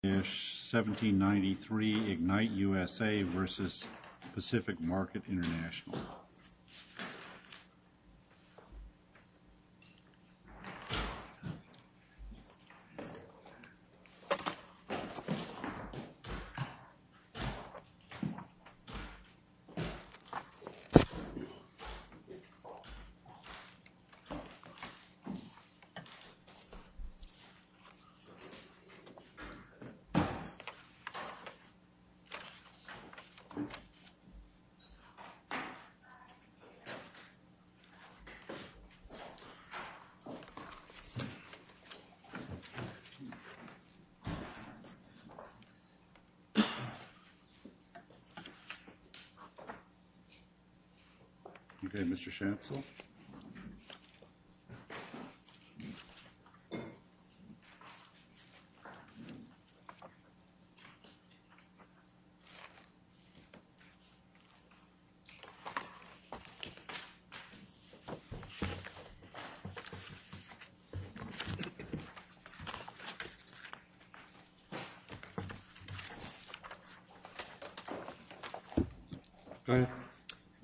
1793 Ignite USA v. Pacific Market International 1793 Ignite USA v. Pacific Market International 1793 Ignite USA v. Pacific Market International 1793 Ignite USA v. Pacific Market International 1793 Ignite USA v. Pacific Market International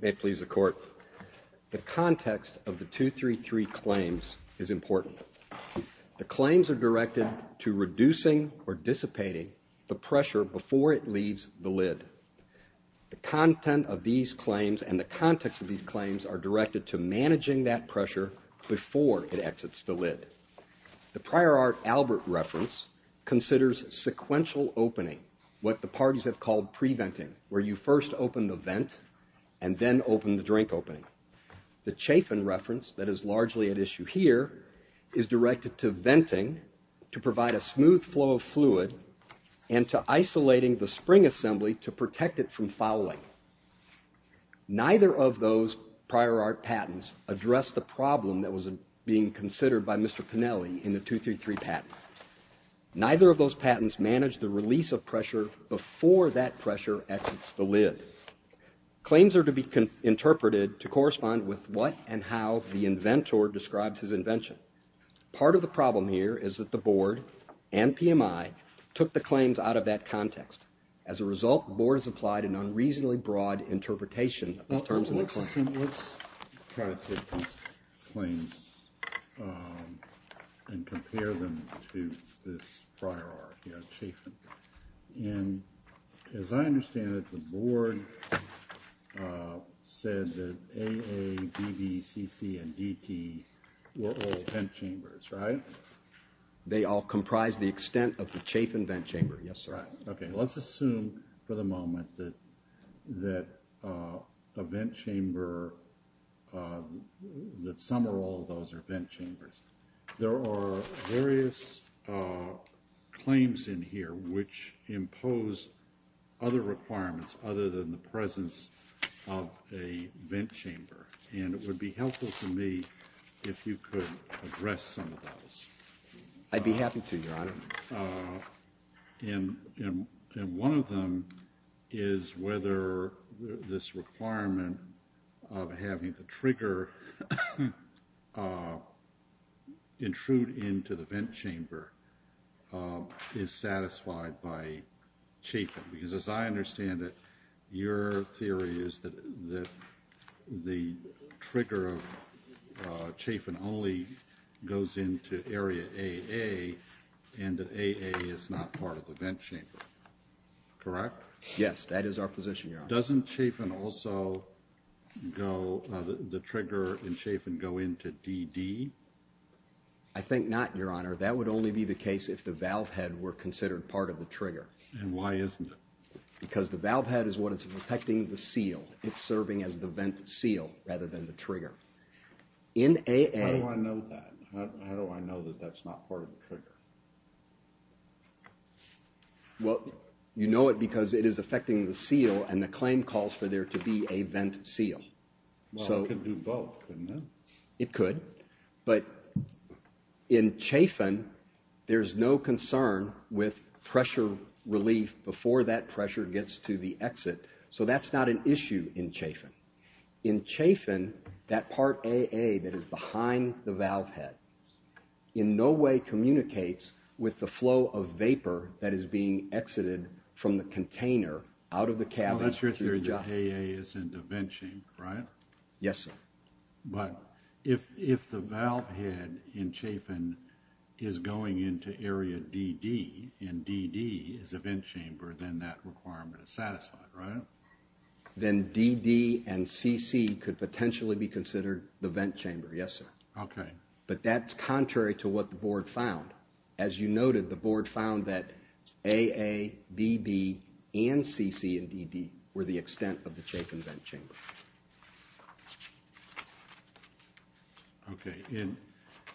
May it please the Court, the context of the 233 claims is important. The claims are directed to reducing or dissipating the pressure before it leaves the lid. The content of these claims and the context of these claims are directed to managing that pressure before it exits the lid. The Prior Art Albert reference considers sequential opening, what the parties have called pre-venting, where you first open the vent and then open the drink opening. The Chafin reference that is largely at issue here is directed to venting to provide a smooth flow of fluid and to isolating the spring assembly to protect it from fouling. Neither of those Prior Art patents address the problem that was being considered by Mr. Pennelly in the 233 patent. Neither of those patents manage the release of pressure before that pressure exits the lid. Claims are to be interpreted to correspond with what and how the inventor describes his invention. Part of the problem here is that the Board and PMI took the claims out of that context. As a result, the Board has applied an unreasonably broad interpretation in terms of the claims. Let's try to take these claims and compare them to this Prior Art here at Chafin. As I understand it, the Board said that AA, BB, CC, and DT were all vent chambers, right? They all comprise the extent of the Chafin vent chamber, yes, sir. Let's assume for the moment that some or all of those are vent chambers. There are various claims in here which impose other requirements other than the presence of a vent chamber. And it would be helpful to me if you could address some of those. I'd be happy to, Your Honor. And one of them is whether this requirement of having the trigger intrude into the vent chamber is satisfied by Chafin. Because as I understand it, your theory is that the trigger of Chafin only goes into area AA and that AA is not part of the vent chamber, correct? Doesn't Chafin also go, the trigger in Chafin go into DD? I think not, Your Honor. That would only be the case if the valve head were considered part of the trigger. And why isn't it? Because the valve head is what is affecting the seal. It's serving as the vent seal rather than the trigger. How do I know that? How do I know that that's not part of the trigger? Well, you know it because it is affecting the seal and the claim calls for there to be a vent seal. Well, it could do both, couldn't it? It could, but in Chafin, there's no concern with pressure relief before that pressure gets to the exit. So that's not an issue in Chafin. In Chafin, that part AA that is behind the valve head in no way communicates with the flow of vapor that is being exited from the container out of the cavity. That's your theory that AA is in the vent chamber, right? Yes, sir. But if the valve head in Chafin is going into area DD and DD is a vent chamber, then that requirement is satisfied, right? Then DD and CC could potentially be considered the vent chamber, yes, sir. Okay. But that's contrary to what the board found. As you noted, the board found that AA, BB and CC and DD were the extent of the Chafin vent chamber. Okay. And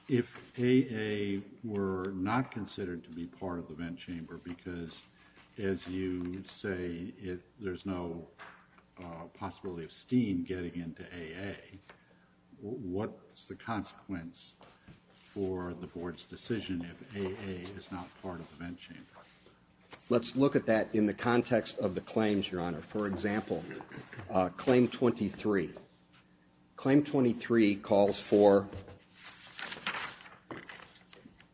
if AA were not considered to be part of the vent chamber because as you say, there's no possibility of steam getting into AA, what's the consequence for the board's decision if AA is not part of the vent chamber? Let's look at that in the context of the claims, Your Honor. For example, claim 23. Claim 23 calls for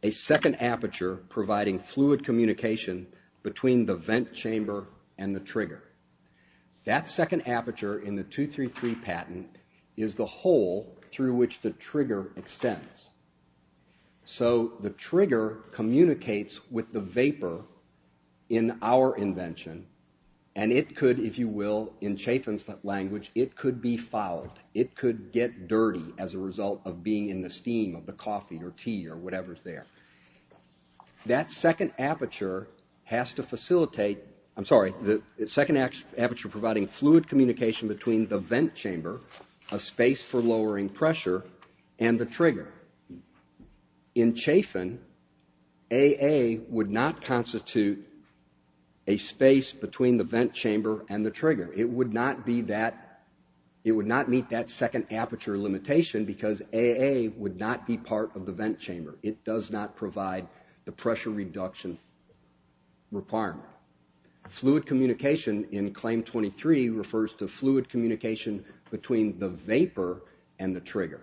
a second aperture providing fluid communication between the vent chamber and the trigger. That second aperture in the 233 patent is the hole through which the trigger extends. So the trigger communicates with the vapor in our invention and it could, if you will, in Chafin's language, it could be fouled. It could get dirty as a result of being in the steam of the coffee or tea or whatever's there. That second aperture has to facilitate, I'm sorry, the second aperture providing fluid communication between the vent chamber, a space for lowering pressure and the trigger. In Chafin, AA would not constitute a space between the vent chamber and the trigger. It would not meet that second aperture limitation because AA would not be part of the vent chamber. It does not provide the pressure reduction requirement. Fluid communication in claim 23 refers to fluid communication between the vapor and the trigger.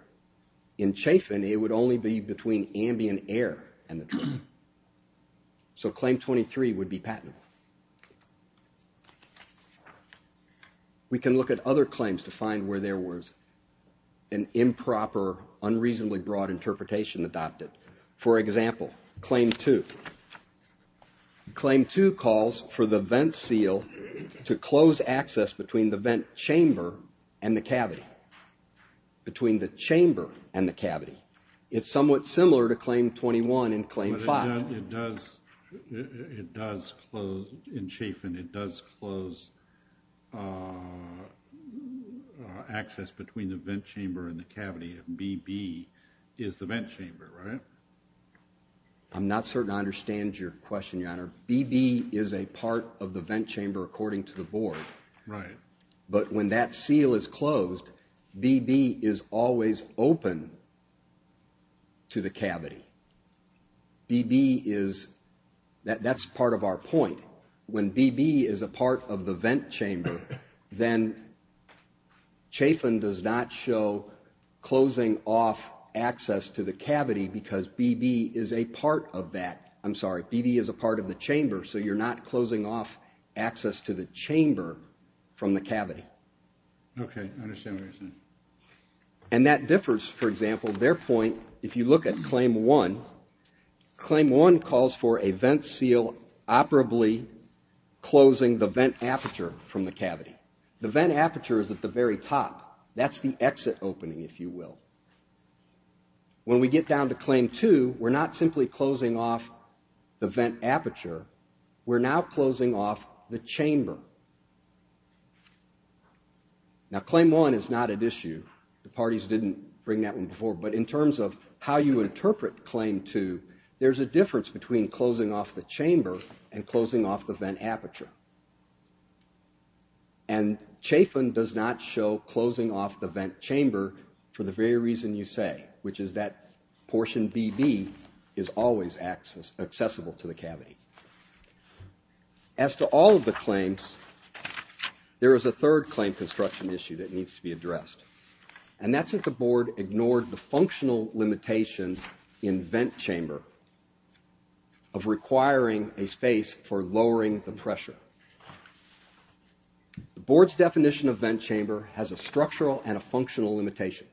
In Chafin, it would only be between ambient air and the trigger. So claim 23 would be patentable. We can look at other claims to find where there was an improper, unreasonably broad interpretation adopted. For example, claim 2. Claim 2 calls for the vent seal to close access between the vent chamber and the cavity. Between the chamber and the cavity. It's somewhat similar to claim 21 in claim 5. In Chafin, it does close access between the vent chamber and the cavity. BB is the vent chamber, right? I'm not certain I understand your question, Your Honor. BB is a part of the vent chamber according to the board. But when that seal is closed, BB is always open to the cavity. That's part of our point. When BB is a part of the vent chamber, then Chafin does not show closing off access to the cavity because BB is a part of that. I'm sorry, BB is a part of the chamber, so you're not closing off access to the chamber from the cavity. And that differs, for example, their point, if you look at claim 1. Claim 1 calls for a vent seal operably closing the vent aperture from the cavity. The vent aperture is at the very top. That's the exit opening, if you will. When we get down to claim 2, we're not simply closing off the vent aperture. We're now closing off the chamber. Now, claim 1 is not at issue. The parties didn't bring that one before. But in terms of how you interpret claim 2, there's a difference between closing off the chamber and closing off the vent aperture. And Chafin does not show closing off the vent chamber for the very reason you say, which is that portion BB is always accessible to the cavity. As to all of the claims, there is a third claim construction issue that needs to be addressed. And that's that the board ignored the functional limitations in vent chamber of requiring a space for lowering the pressure. The board's definition of vent chamber has a structural and a functional limitation.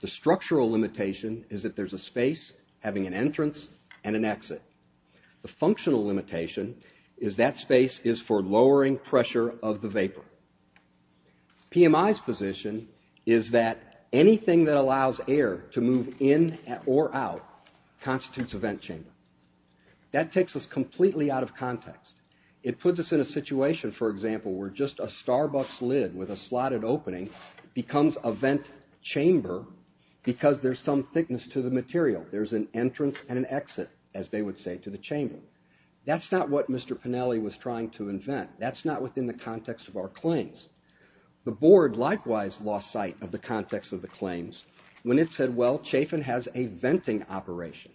The structural limitation is that there's a space having an entrance and an exit. The functional limitation is that space is for lowering pressure of the vapor. PMI's position is that anything that allows air to move in or out constitutes a vent chamber. That takes us completely out of context. It puts us in a situation, for example, where just a Starbucks lid with a slotted opening becomes a vent chamber because there's some thickness to the material. There's an entrance and an exit, as they would say, to the chamber. That's not what Mr. Pennelly was trying to invent. That's not within the context of our claims. The board likewise lost sight of the context of the claims when it said, well, Chafin has a venting operation.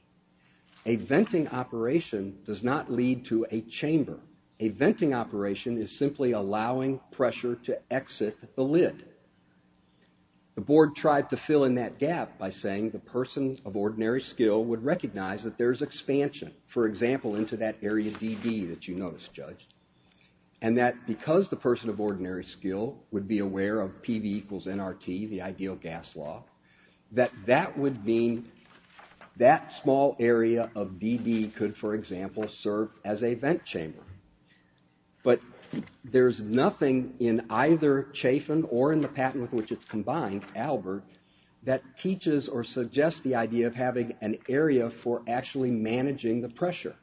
A venting operation does not lead to a chamber. A venting operation is simply allowing pressure to exit the lid. The board tried to fill in that gap by saying the person of ordinary skill would recognize that there's expansion, for example, into that area DD that you noticed, Judge. And that because the person of ordinary skill would be aware of PV equals NRT, the ideal gas law, that that would mean that small area of DD could, for example, serve as a vent chamber. But there's nothing in either Chafin or in the patent with which it's combined, Albert, that teaches or suggests the idea of having an area for actually managing the pressure.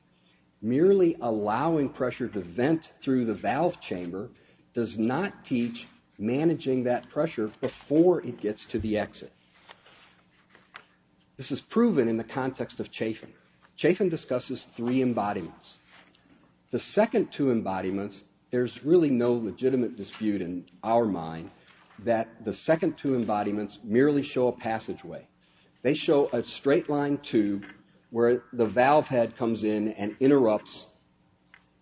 Merely allowing pressure to vent through the valve chamber does not teach managing that pressure before it gets to the exit. This is proven in the context of Chafin. Chafin discusses three embodiments. The second two embodiments, there's really no legitimate dispute in our mind that the second two embodiments merely show a passageway. They show a straight line tube where the valve head comes in and interrupts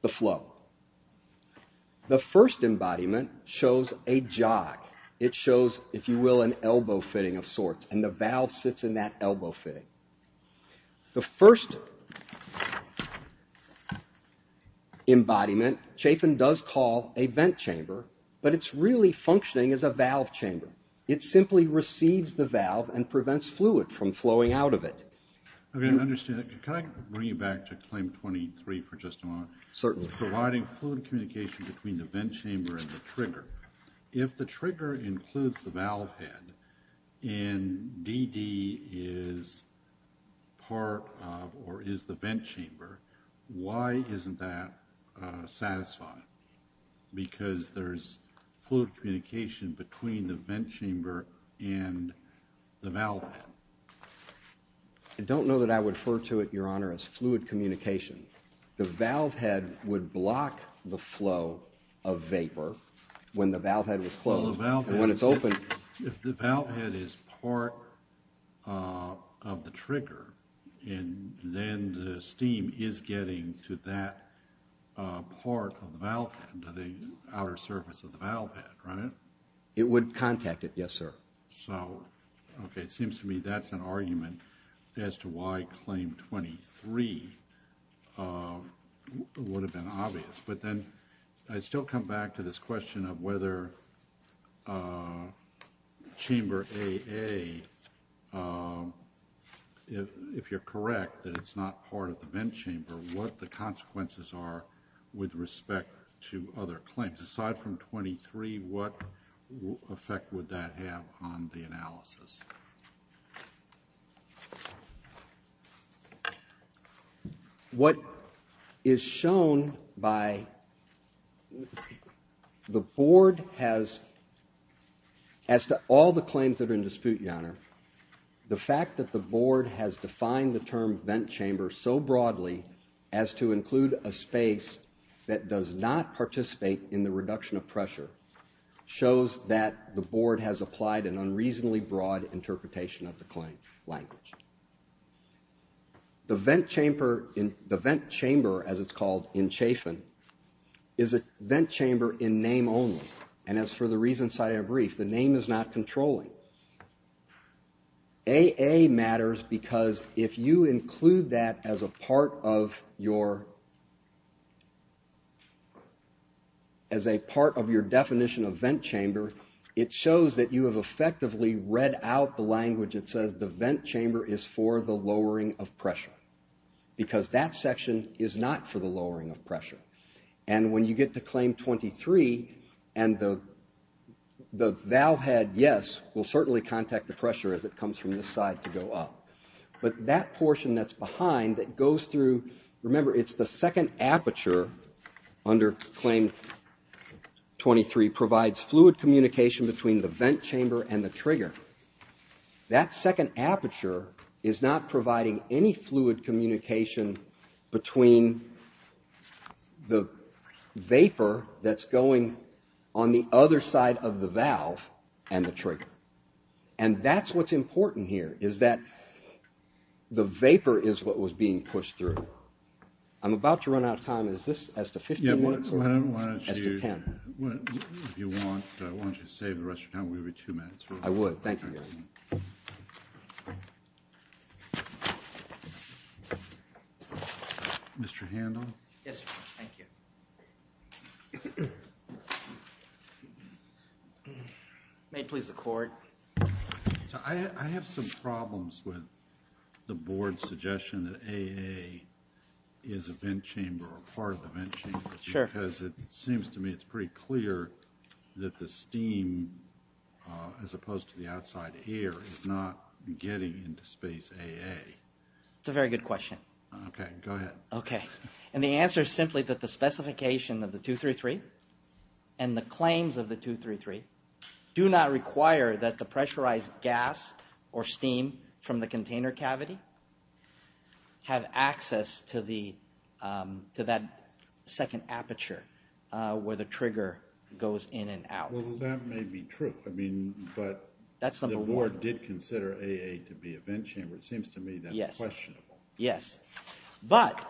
the flow. The first embodiment shows a jog. It shows, if you will, an elbow fitting of sorts, and the valve sits in that elbow fitting. The third embodiment, Chafin does call a vent chamber, but it's really functioning as a valve chamber. It simply receives the valve and prevents fluid from flowing out of it. Can I bring you back to claim 23 for just a moment? Certainly. Providing fluid communication between the vent chamber and the trigger. If the trigger includes the valve head and DD is part of or is the vent chamber, why isn't that satisfying? Because there's fluid communication between the vent chamber and the valve head. I don't know that I would refer to it, Your Honor, as fluid communication. The valve head would block the flow of vapor when the valve head was closed. If the valve head is part of the trigger, then the steam is getting to that part of the valve head, to the outer surface of the valve head, right? It would contact it, yes, sir. So, okay, it seems to me that's an argument as to why claim 23 would have been obvious. But then I still come back to this question of whether Chamber AA, if you're correct, that it's not part of the vent chamber, what the consequences are with respect to other claims. Aside from 23, what effect would that have on the analysis? What is shown by the board has, as to all the claims that are in dispute, Your Honor, the fact that the board has defined the term vent chamber so broadly as to include a space that does not participate in the review. The reduction of pressure shows that the board has applied an unreasonably broad interpretation of the claim language. The vent chamber, as it's called in Chafin, is a vent chamber in name only. And as for the reasons I have briefed, the name is not controlling. AA matters because if you include that as a part of your, as a part of your claim language, it's not controlling. As a part of your definition of vent chamber, it shows that you have effectively read out the language that says the vent chamber is for the lowering of pressure. Because that section is not for the lowering of pressure. And when you get to claim 23, and the thou had yes will certainly contact the pressure as it comes from this side to go up. But that portion that's behind that goes through, remember, it's the second aperture under claim 23. Provides fluid communication between the vent chamber and the trigger. That second aperture is not providing any fluid communication between the vapor that's going on the other side of the valve and the trigger. And that's what's important here, is that the vapor is what was being pushed through. I'm about to run out of time, is this as to 15 minutes or as to 10? If you want, why don't you save the rest of your time, we'll give you two minutes. I would, thank you. Mr. Handel? Yes, thank you. May it please the court. I have some problems with the board's suggestion that AA is a vent chamber or part of the vent chamber. Because it seems to me it's pretty clear that the steam, as opposed to the outside air, is not getting into space AA. It's a very good question. The claims of the 233 do not require that the pressurized gas or steam from the container cavity have access to that second aperture where the trigger goes in and out. Well, that may be true, but the board did consider AA to be a vent chamber. It seems to me that's questionable. Yes. But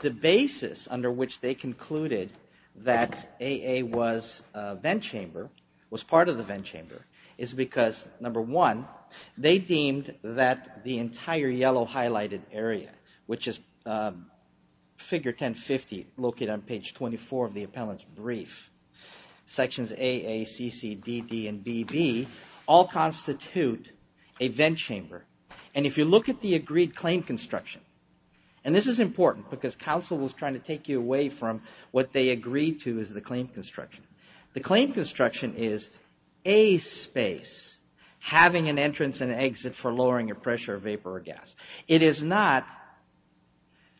the basis under which they concluded that AA was part of the vent chamber is because, number one, they deemed that the entire yellow highlighted area, which is figure 1050, located on page 24 of the appellant's brief, sections AA, CC, DD, and BB, all constitute a vent chamber. And if you look at the agreed claim construction, and this is important, because counsel was trying to take you away from what they agreed to as the claim construction. The claim construction is a space having an entrance and exit for lowering a pressure of vapor or gas. It is not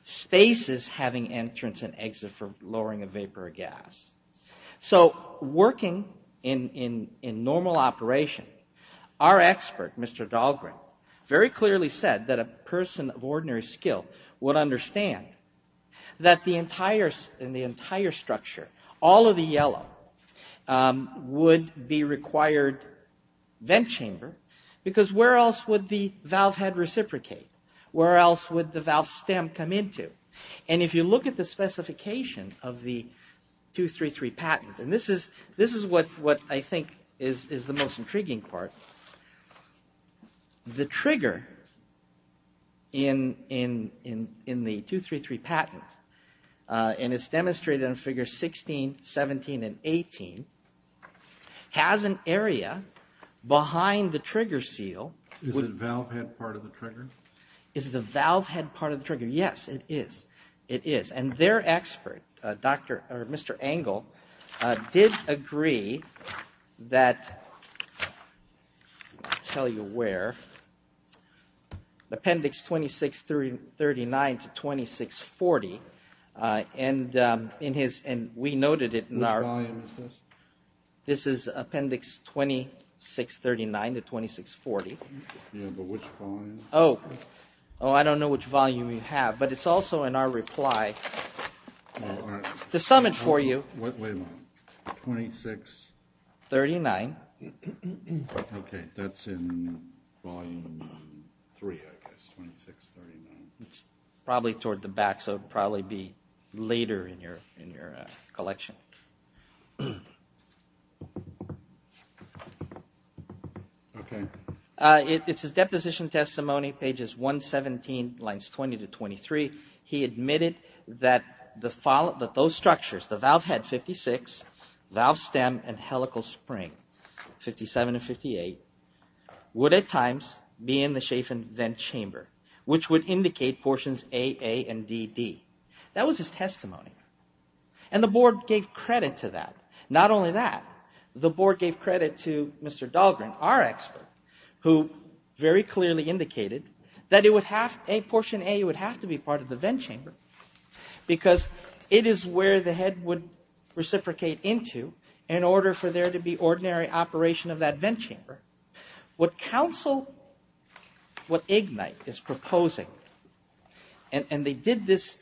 spaces having entrance and exit for lowering a vapor or gas. So working in normal operation, our expert, Mr. Dahlgren, has said that it's a vent chamber. Very clearly said that a person of ordinary skill would understand that in the entire structure, all of the yellow would be required vent chamber, because where else would the valve head reciprocate? Where else would the valve stem come into? And if you look at the specification of the 233 patent, and this is what I think is the most intriguing part, the trigger goes in and out of the vent chamber. The trigger in the 233 patent, and it's demonstrated in figures 16, 17, and 18, has an area behind the trigger seal. Is the valve head part of the trigger? Is the valve head part of the trigger? Yes, it is. It is. And their expert, Mr. Engel, did agree that, I'll tell you where, Appendix 2639 to 2640, and we noted it in our... Which volume is this? This is Appendix 2639 to 2640. Yeah, but which volume? Oh, I don't know which volume you have, but it's also in our reply to sum it for you. Wait a minute, 2639. Okay, that's in Volume 3, I guess, 2639. It's probably toward the back, so it would probably be later in your collection. It's his deposition testimony, pages 117, lines 20 to 23. He admitted that those structures, the valve head, 56, valve stem, and helical spring, 57 and 58, would at times be in the chafing vent chamber, which would indicate portions AA and DD. That was his testimony, and the board gave credit to that. Not only that, the board gave credit to Mr. Dahlgren, our expert, who very clearly indicated that portion A would have to be part of the vent chamber, because it is where the head would reciprocate into in order for there to be ordinary operation of that vent chamber. What council, what IGNITE is proposing, and they did this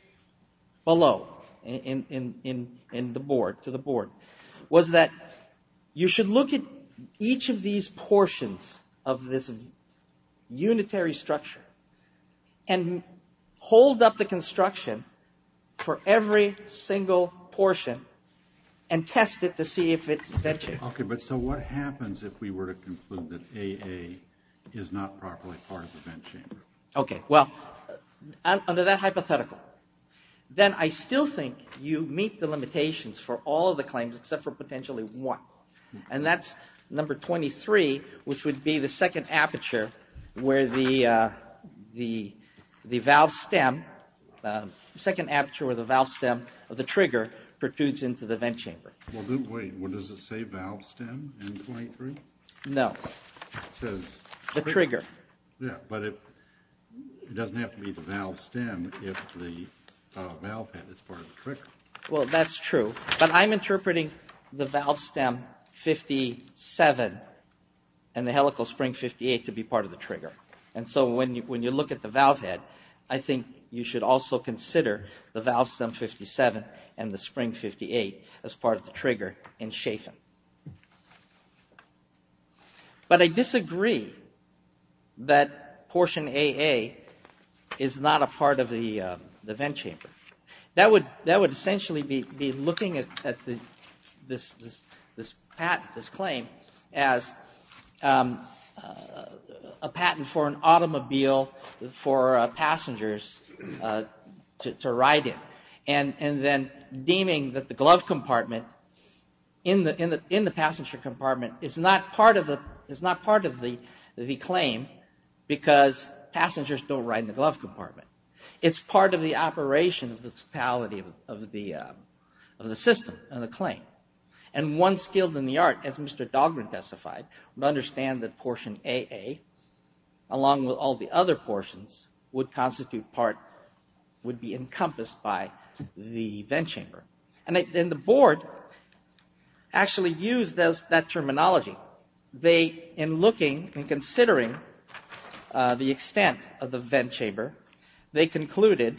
below, in the board, to the board. Was that you should look at each of these portions of this unitary structure and hold up the construction for every single portion and test it to see if it's vent chamber. Okay, but so what happens if we were to conclude that AA is not properly part of the vent chamber? Okay, well, under that hypothetical, then I still think you meet the limitations for all of the claims except for portion A. And that's number 23, which would be the second aperture where the valve stem, the second aperture where the valve stem of the trigger protrudes into the vent chamber. Well, wait, does it say valve stem in 23? No. It says... The trigger. Yeah, but it doesn't have to be the valve stem if the valve head is part of the trigger. Well, that's true, but I'm interpreting the valve stem 57 and the helical spring 58 to be part of the trigger. And so when you look at the valve head, I think you should also consider the valve stem 57 and the spring 58 as part of the trigger in Schaffen. But I disagree that portion AA is not a part of the vent chamber. That would essentially be looking at this patent, this claim as a patent for an automobile for passengers to ride in. And then deeming that the glove compartment in the passenger compartment is not part of the claim because passengers don't ride in the glove compartment. It's part of the operation of the totality of the system and the claim. And one skilled in the art, as Mr. Dahlgren testified, would understand that portion AA along with all the other portions would constitute part, would be encompassed by the vent chamber. And the board actually used that terminology. They, in looking and considering the extent of the vent chamber, they concluded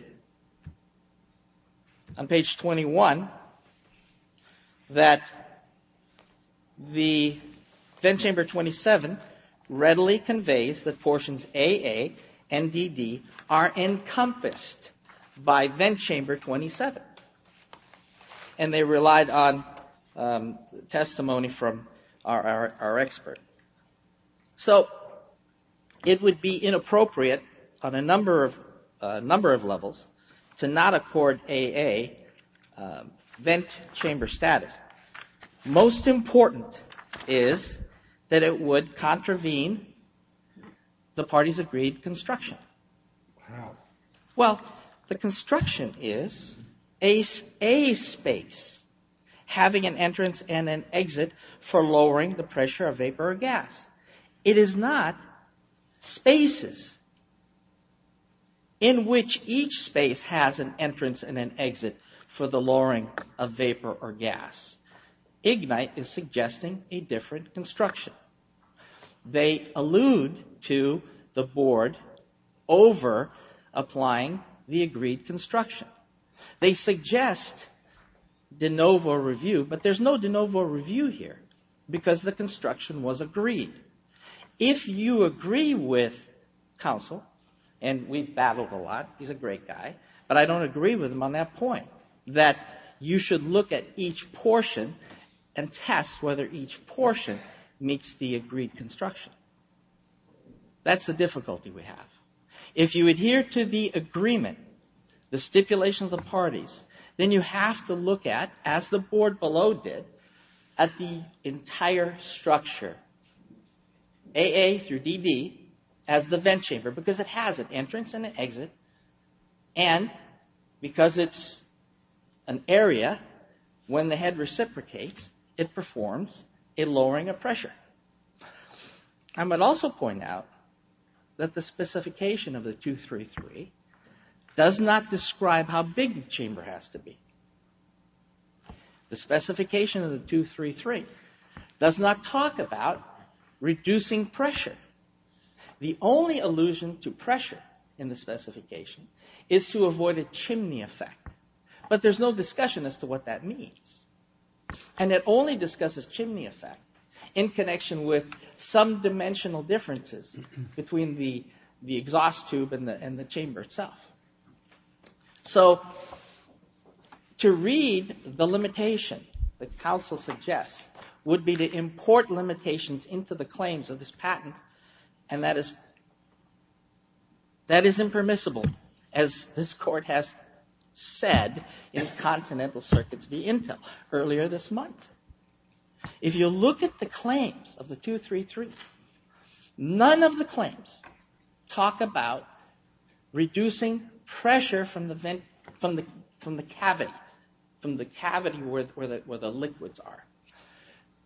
on page 21 that the vent chamber 27 readily conveys that portions AA and DD are encompassed by vent chamber 27. And they relied on testimony from our expert. So it would be inappropriate on a number of levels to not accord AA vent chamber status. Most important is that it would contravene the party's agreed construction. Wow. Well, the construction is a space having an entrance and an exit for lowering the pressure of vapor or gas. It is not spaces in which each space has an entrance and an exit for the lowering of vapor or gas. Ignite is suggesting a different construction. They allude to the board over applying the agreed construction. They suggest de novo review, but there's no de novo review here, because the construction was agreed. If you agree with counsel, and we've battled a lot, he's a great guy, but I don't agree with him on that point. That you should look at each portion and test whether each portion meets the agreed construction. That's the difficulty we have. If you adhere to the agreement, the stipulation of the parties, then you have to look at, as the board below did, at the entire structure, AA through DD, as the vent chamber, because it has an entrance and an exit, and because it's an area, when the head reciprocates, it performs a lowering of pressure. I might also point out that the specification of the 233 does not describe how big the chamber has to be. The specification of the 233 does not talk about reducing pressure. The only allusion to pressure in the specification is to avoid a chimney effect, but there's no discussion as to what that means. And it only discusses chimney effect in connection with some dimensional differences between the exhaust tube and the chamber itself. To read the limitation that counsel suggests would be to import limitations into the claims of this patent, and that is impermissible, as this court has said in Continental Circuits v. Intel. If you look at the claims of the 233, none of the claims talk about reducing pressure from the cavity where the liquids are.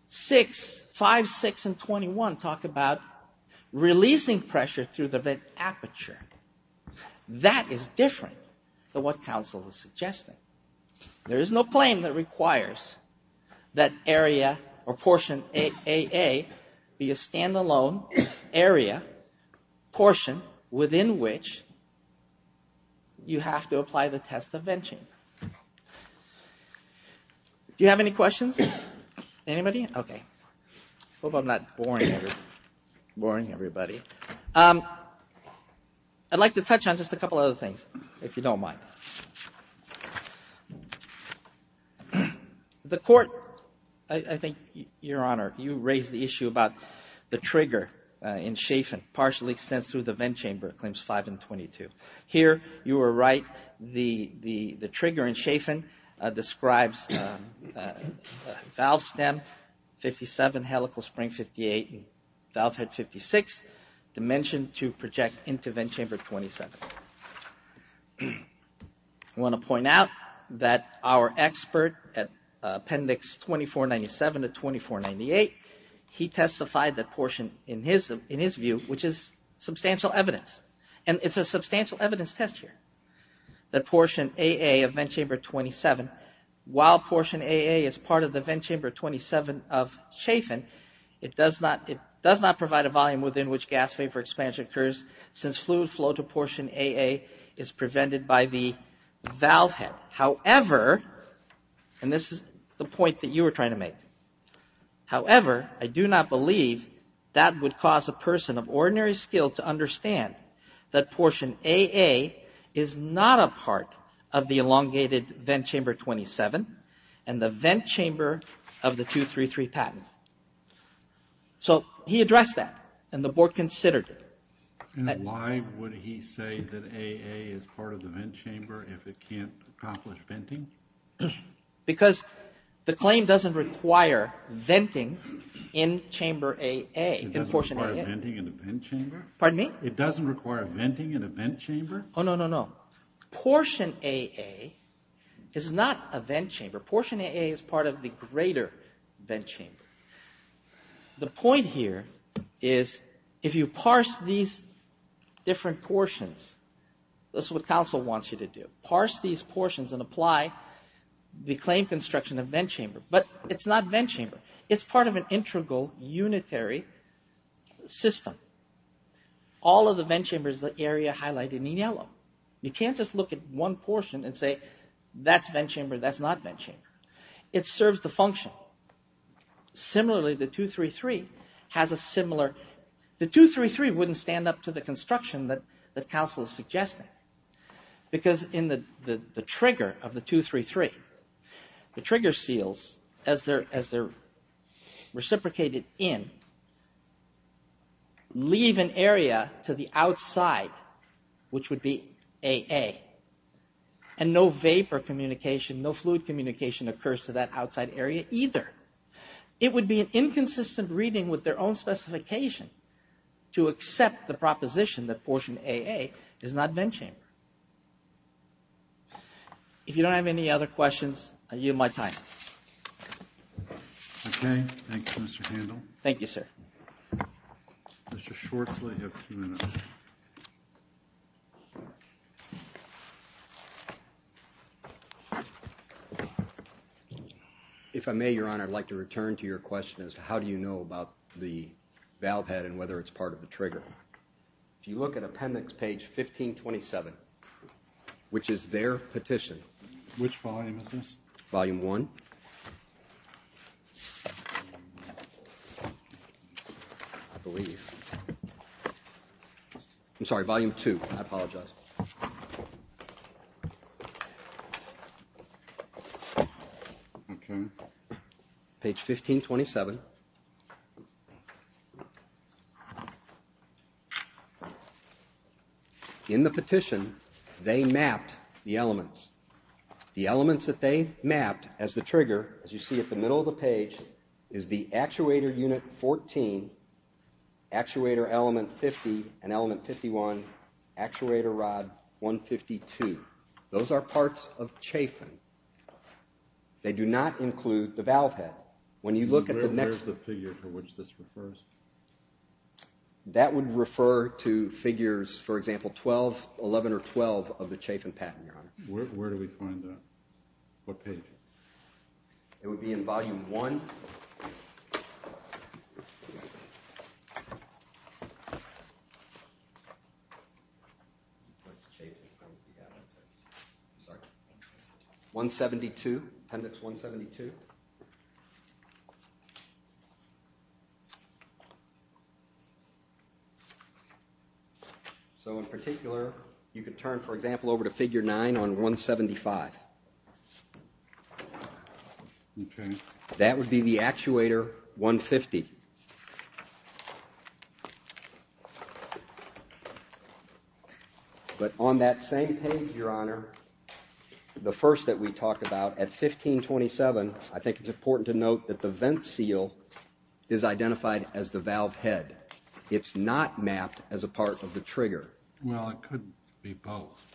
5, 6, and 21 talk about releasing pressure through the vent aperture. That is different than what counsel is suggesting. The claim is, of course, that area or portion 8AA be a stand-alone area portion within which you have to apply the test of venting. Do you have any questions? I'd like to touch on just a couple of other things, if you don't mind. The court, I think, Your Honor, you raised the issue about the trigger in Chafin partially extends through the vent chamber, claims 5 and 22. Here, you are right, the trigger in Chafin describes valve stem 57, helical spring 58, and valve head 56 dimensioned to project into vent chamber 27. I want to point out that our expert at Appendix 2497 to 2498, he testified that portion in his view, which is substantial evidence, and it's a substantial evidence test here. That portion 8AA of vent chamber 27, while portion 8AA is part of the vent chamber 27 of Chafin, it does not provide a volume within which gas vapor expansion occurs since fluid flow to portion 8AA is a part of the vent chamber 27 of Chafin. Portion 8AA is prevented by the valve head. However, and this is the point that you were trying to make, however, I do not believe that would cause a person of ordinary skill to understand that portion 8AA is not a part of the elongated vent chamber 27 and the vent chamber of the 233 patent. So he addressed that and the board considered it. Why is it that 8AA is part of the vent chamber if it can't accomplish venting? Because the claim doesn't require venting in chamber 8AA, in portion 8AA. It doesn't require venting in a vent chamber? Oh, no, no, no. Portion 8AA is not a vent chamber. Portion 8AA is part of the greater vent chamber. The point here is if you parse these different portions, this is what counsel wants you to do. Parse these portions and apply the claim construction of vent chamber, but it's not vent chamber. It's part of an integral, unitary system. All of the vent chamber is the area highlighted in yellow. You can't just look at one portion and say, that's vent chamber, that's not vent chamber. It serves the function. The 233 wouldn't stand up to the construction that counsel is suggesting, because in the trigger of the 233, the trigger seals, as they're reciprocated in, leave an area to the outside, which would be outside the vent chamber. That would be 8AA, and no vapor communication, no fluid communication occurs to that outside area either. It would be an inconsistent reading with their own specification to accept the proposition that portion 8AA is not vent chamber. If you don't have any other questions, I yield my time. Okay, thank you, Mr. Handel. If I may, Your Honor, I'd like to return to your question as to how do you know about the valve head and whether it's part of the trigger. If you look at appendix page 1527, which is their petition. Which volume is this? Volume 1. I believe. I'm sorry, volume 2. I apologize. Okay. Page 1527. In the petition, they mapped the elements. The elements that they mapped as the trigger, as you see at the middle of the page, is the actuator unit 14, actuator element 50, and element 51, actuator rod 152. They do not include the valve head. Where is the figure for which this refers? That would refer to figures, for example, 12, 11, or 12 of the Chafin patent, Your Honor. Where do we find that? What page? It would be in volume 1. 172, appendix 172. So in particular, you could turn, for example, over to figure 9 on 175. That would be the actuator 150. But on that same page, Your Honor, the first that we talked about, at 1527, I think it's important to note that the vent seal is identified as the valve head. It's not mapped as a part of the trigger. Well, it could be both.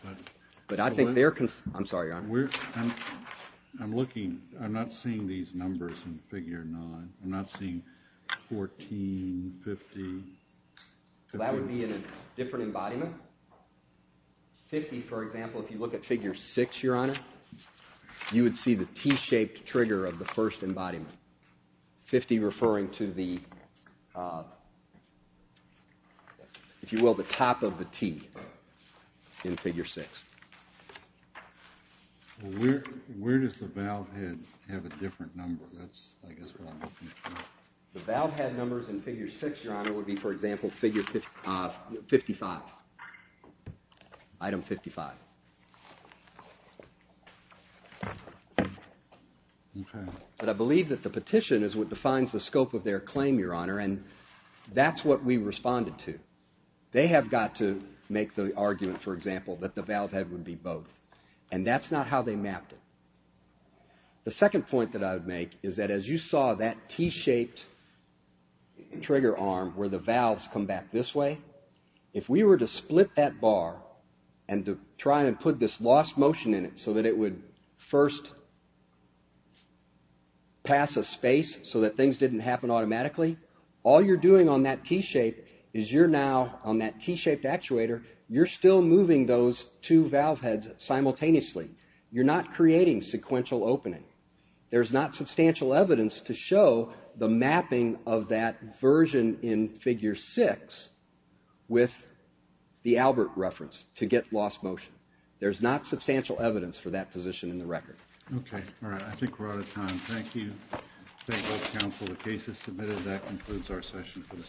I'm not seeing these numbers in figure 9. I'm not seeing 14, 50. That would be in a different embodiment. 50, for example, if you look at figure 6, Your Honor, you would see the T-shaped trigger of the first embodiment. 50 referring to the, if you will, the top of the T in figure 6. Where does the valve head have a different number? The valve head numbers in figure 6, Your Honor, would be, for example, 55, item 55. But I believe that the petition is what defines the scope of their claim, Your Honor. And that's what we responded to. They have got to make the argument, for example, that the valve head would be both. And that's not how they mapped it. The second point that I would make is that as you saw that T-shaped trigger arm where the valves come back this way, if we were to split that bar and to try and put this lost motion in it so that it would first pass a space so that things didn't happen automatically, all you're doing on that T-shape is you're now, on that T-shaped actuator, you're still moving those two valve heads simultaneously. You're not creating sequential opening. There's not substantial evidence to show the mapping of that version in figure 6 with the Albert reference to get lost motion. There's not substantial evidence for that position in the record.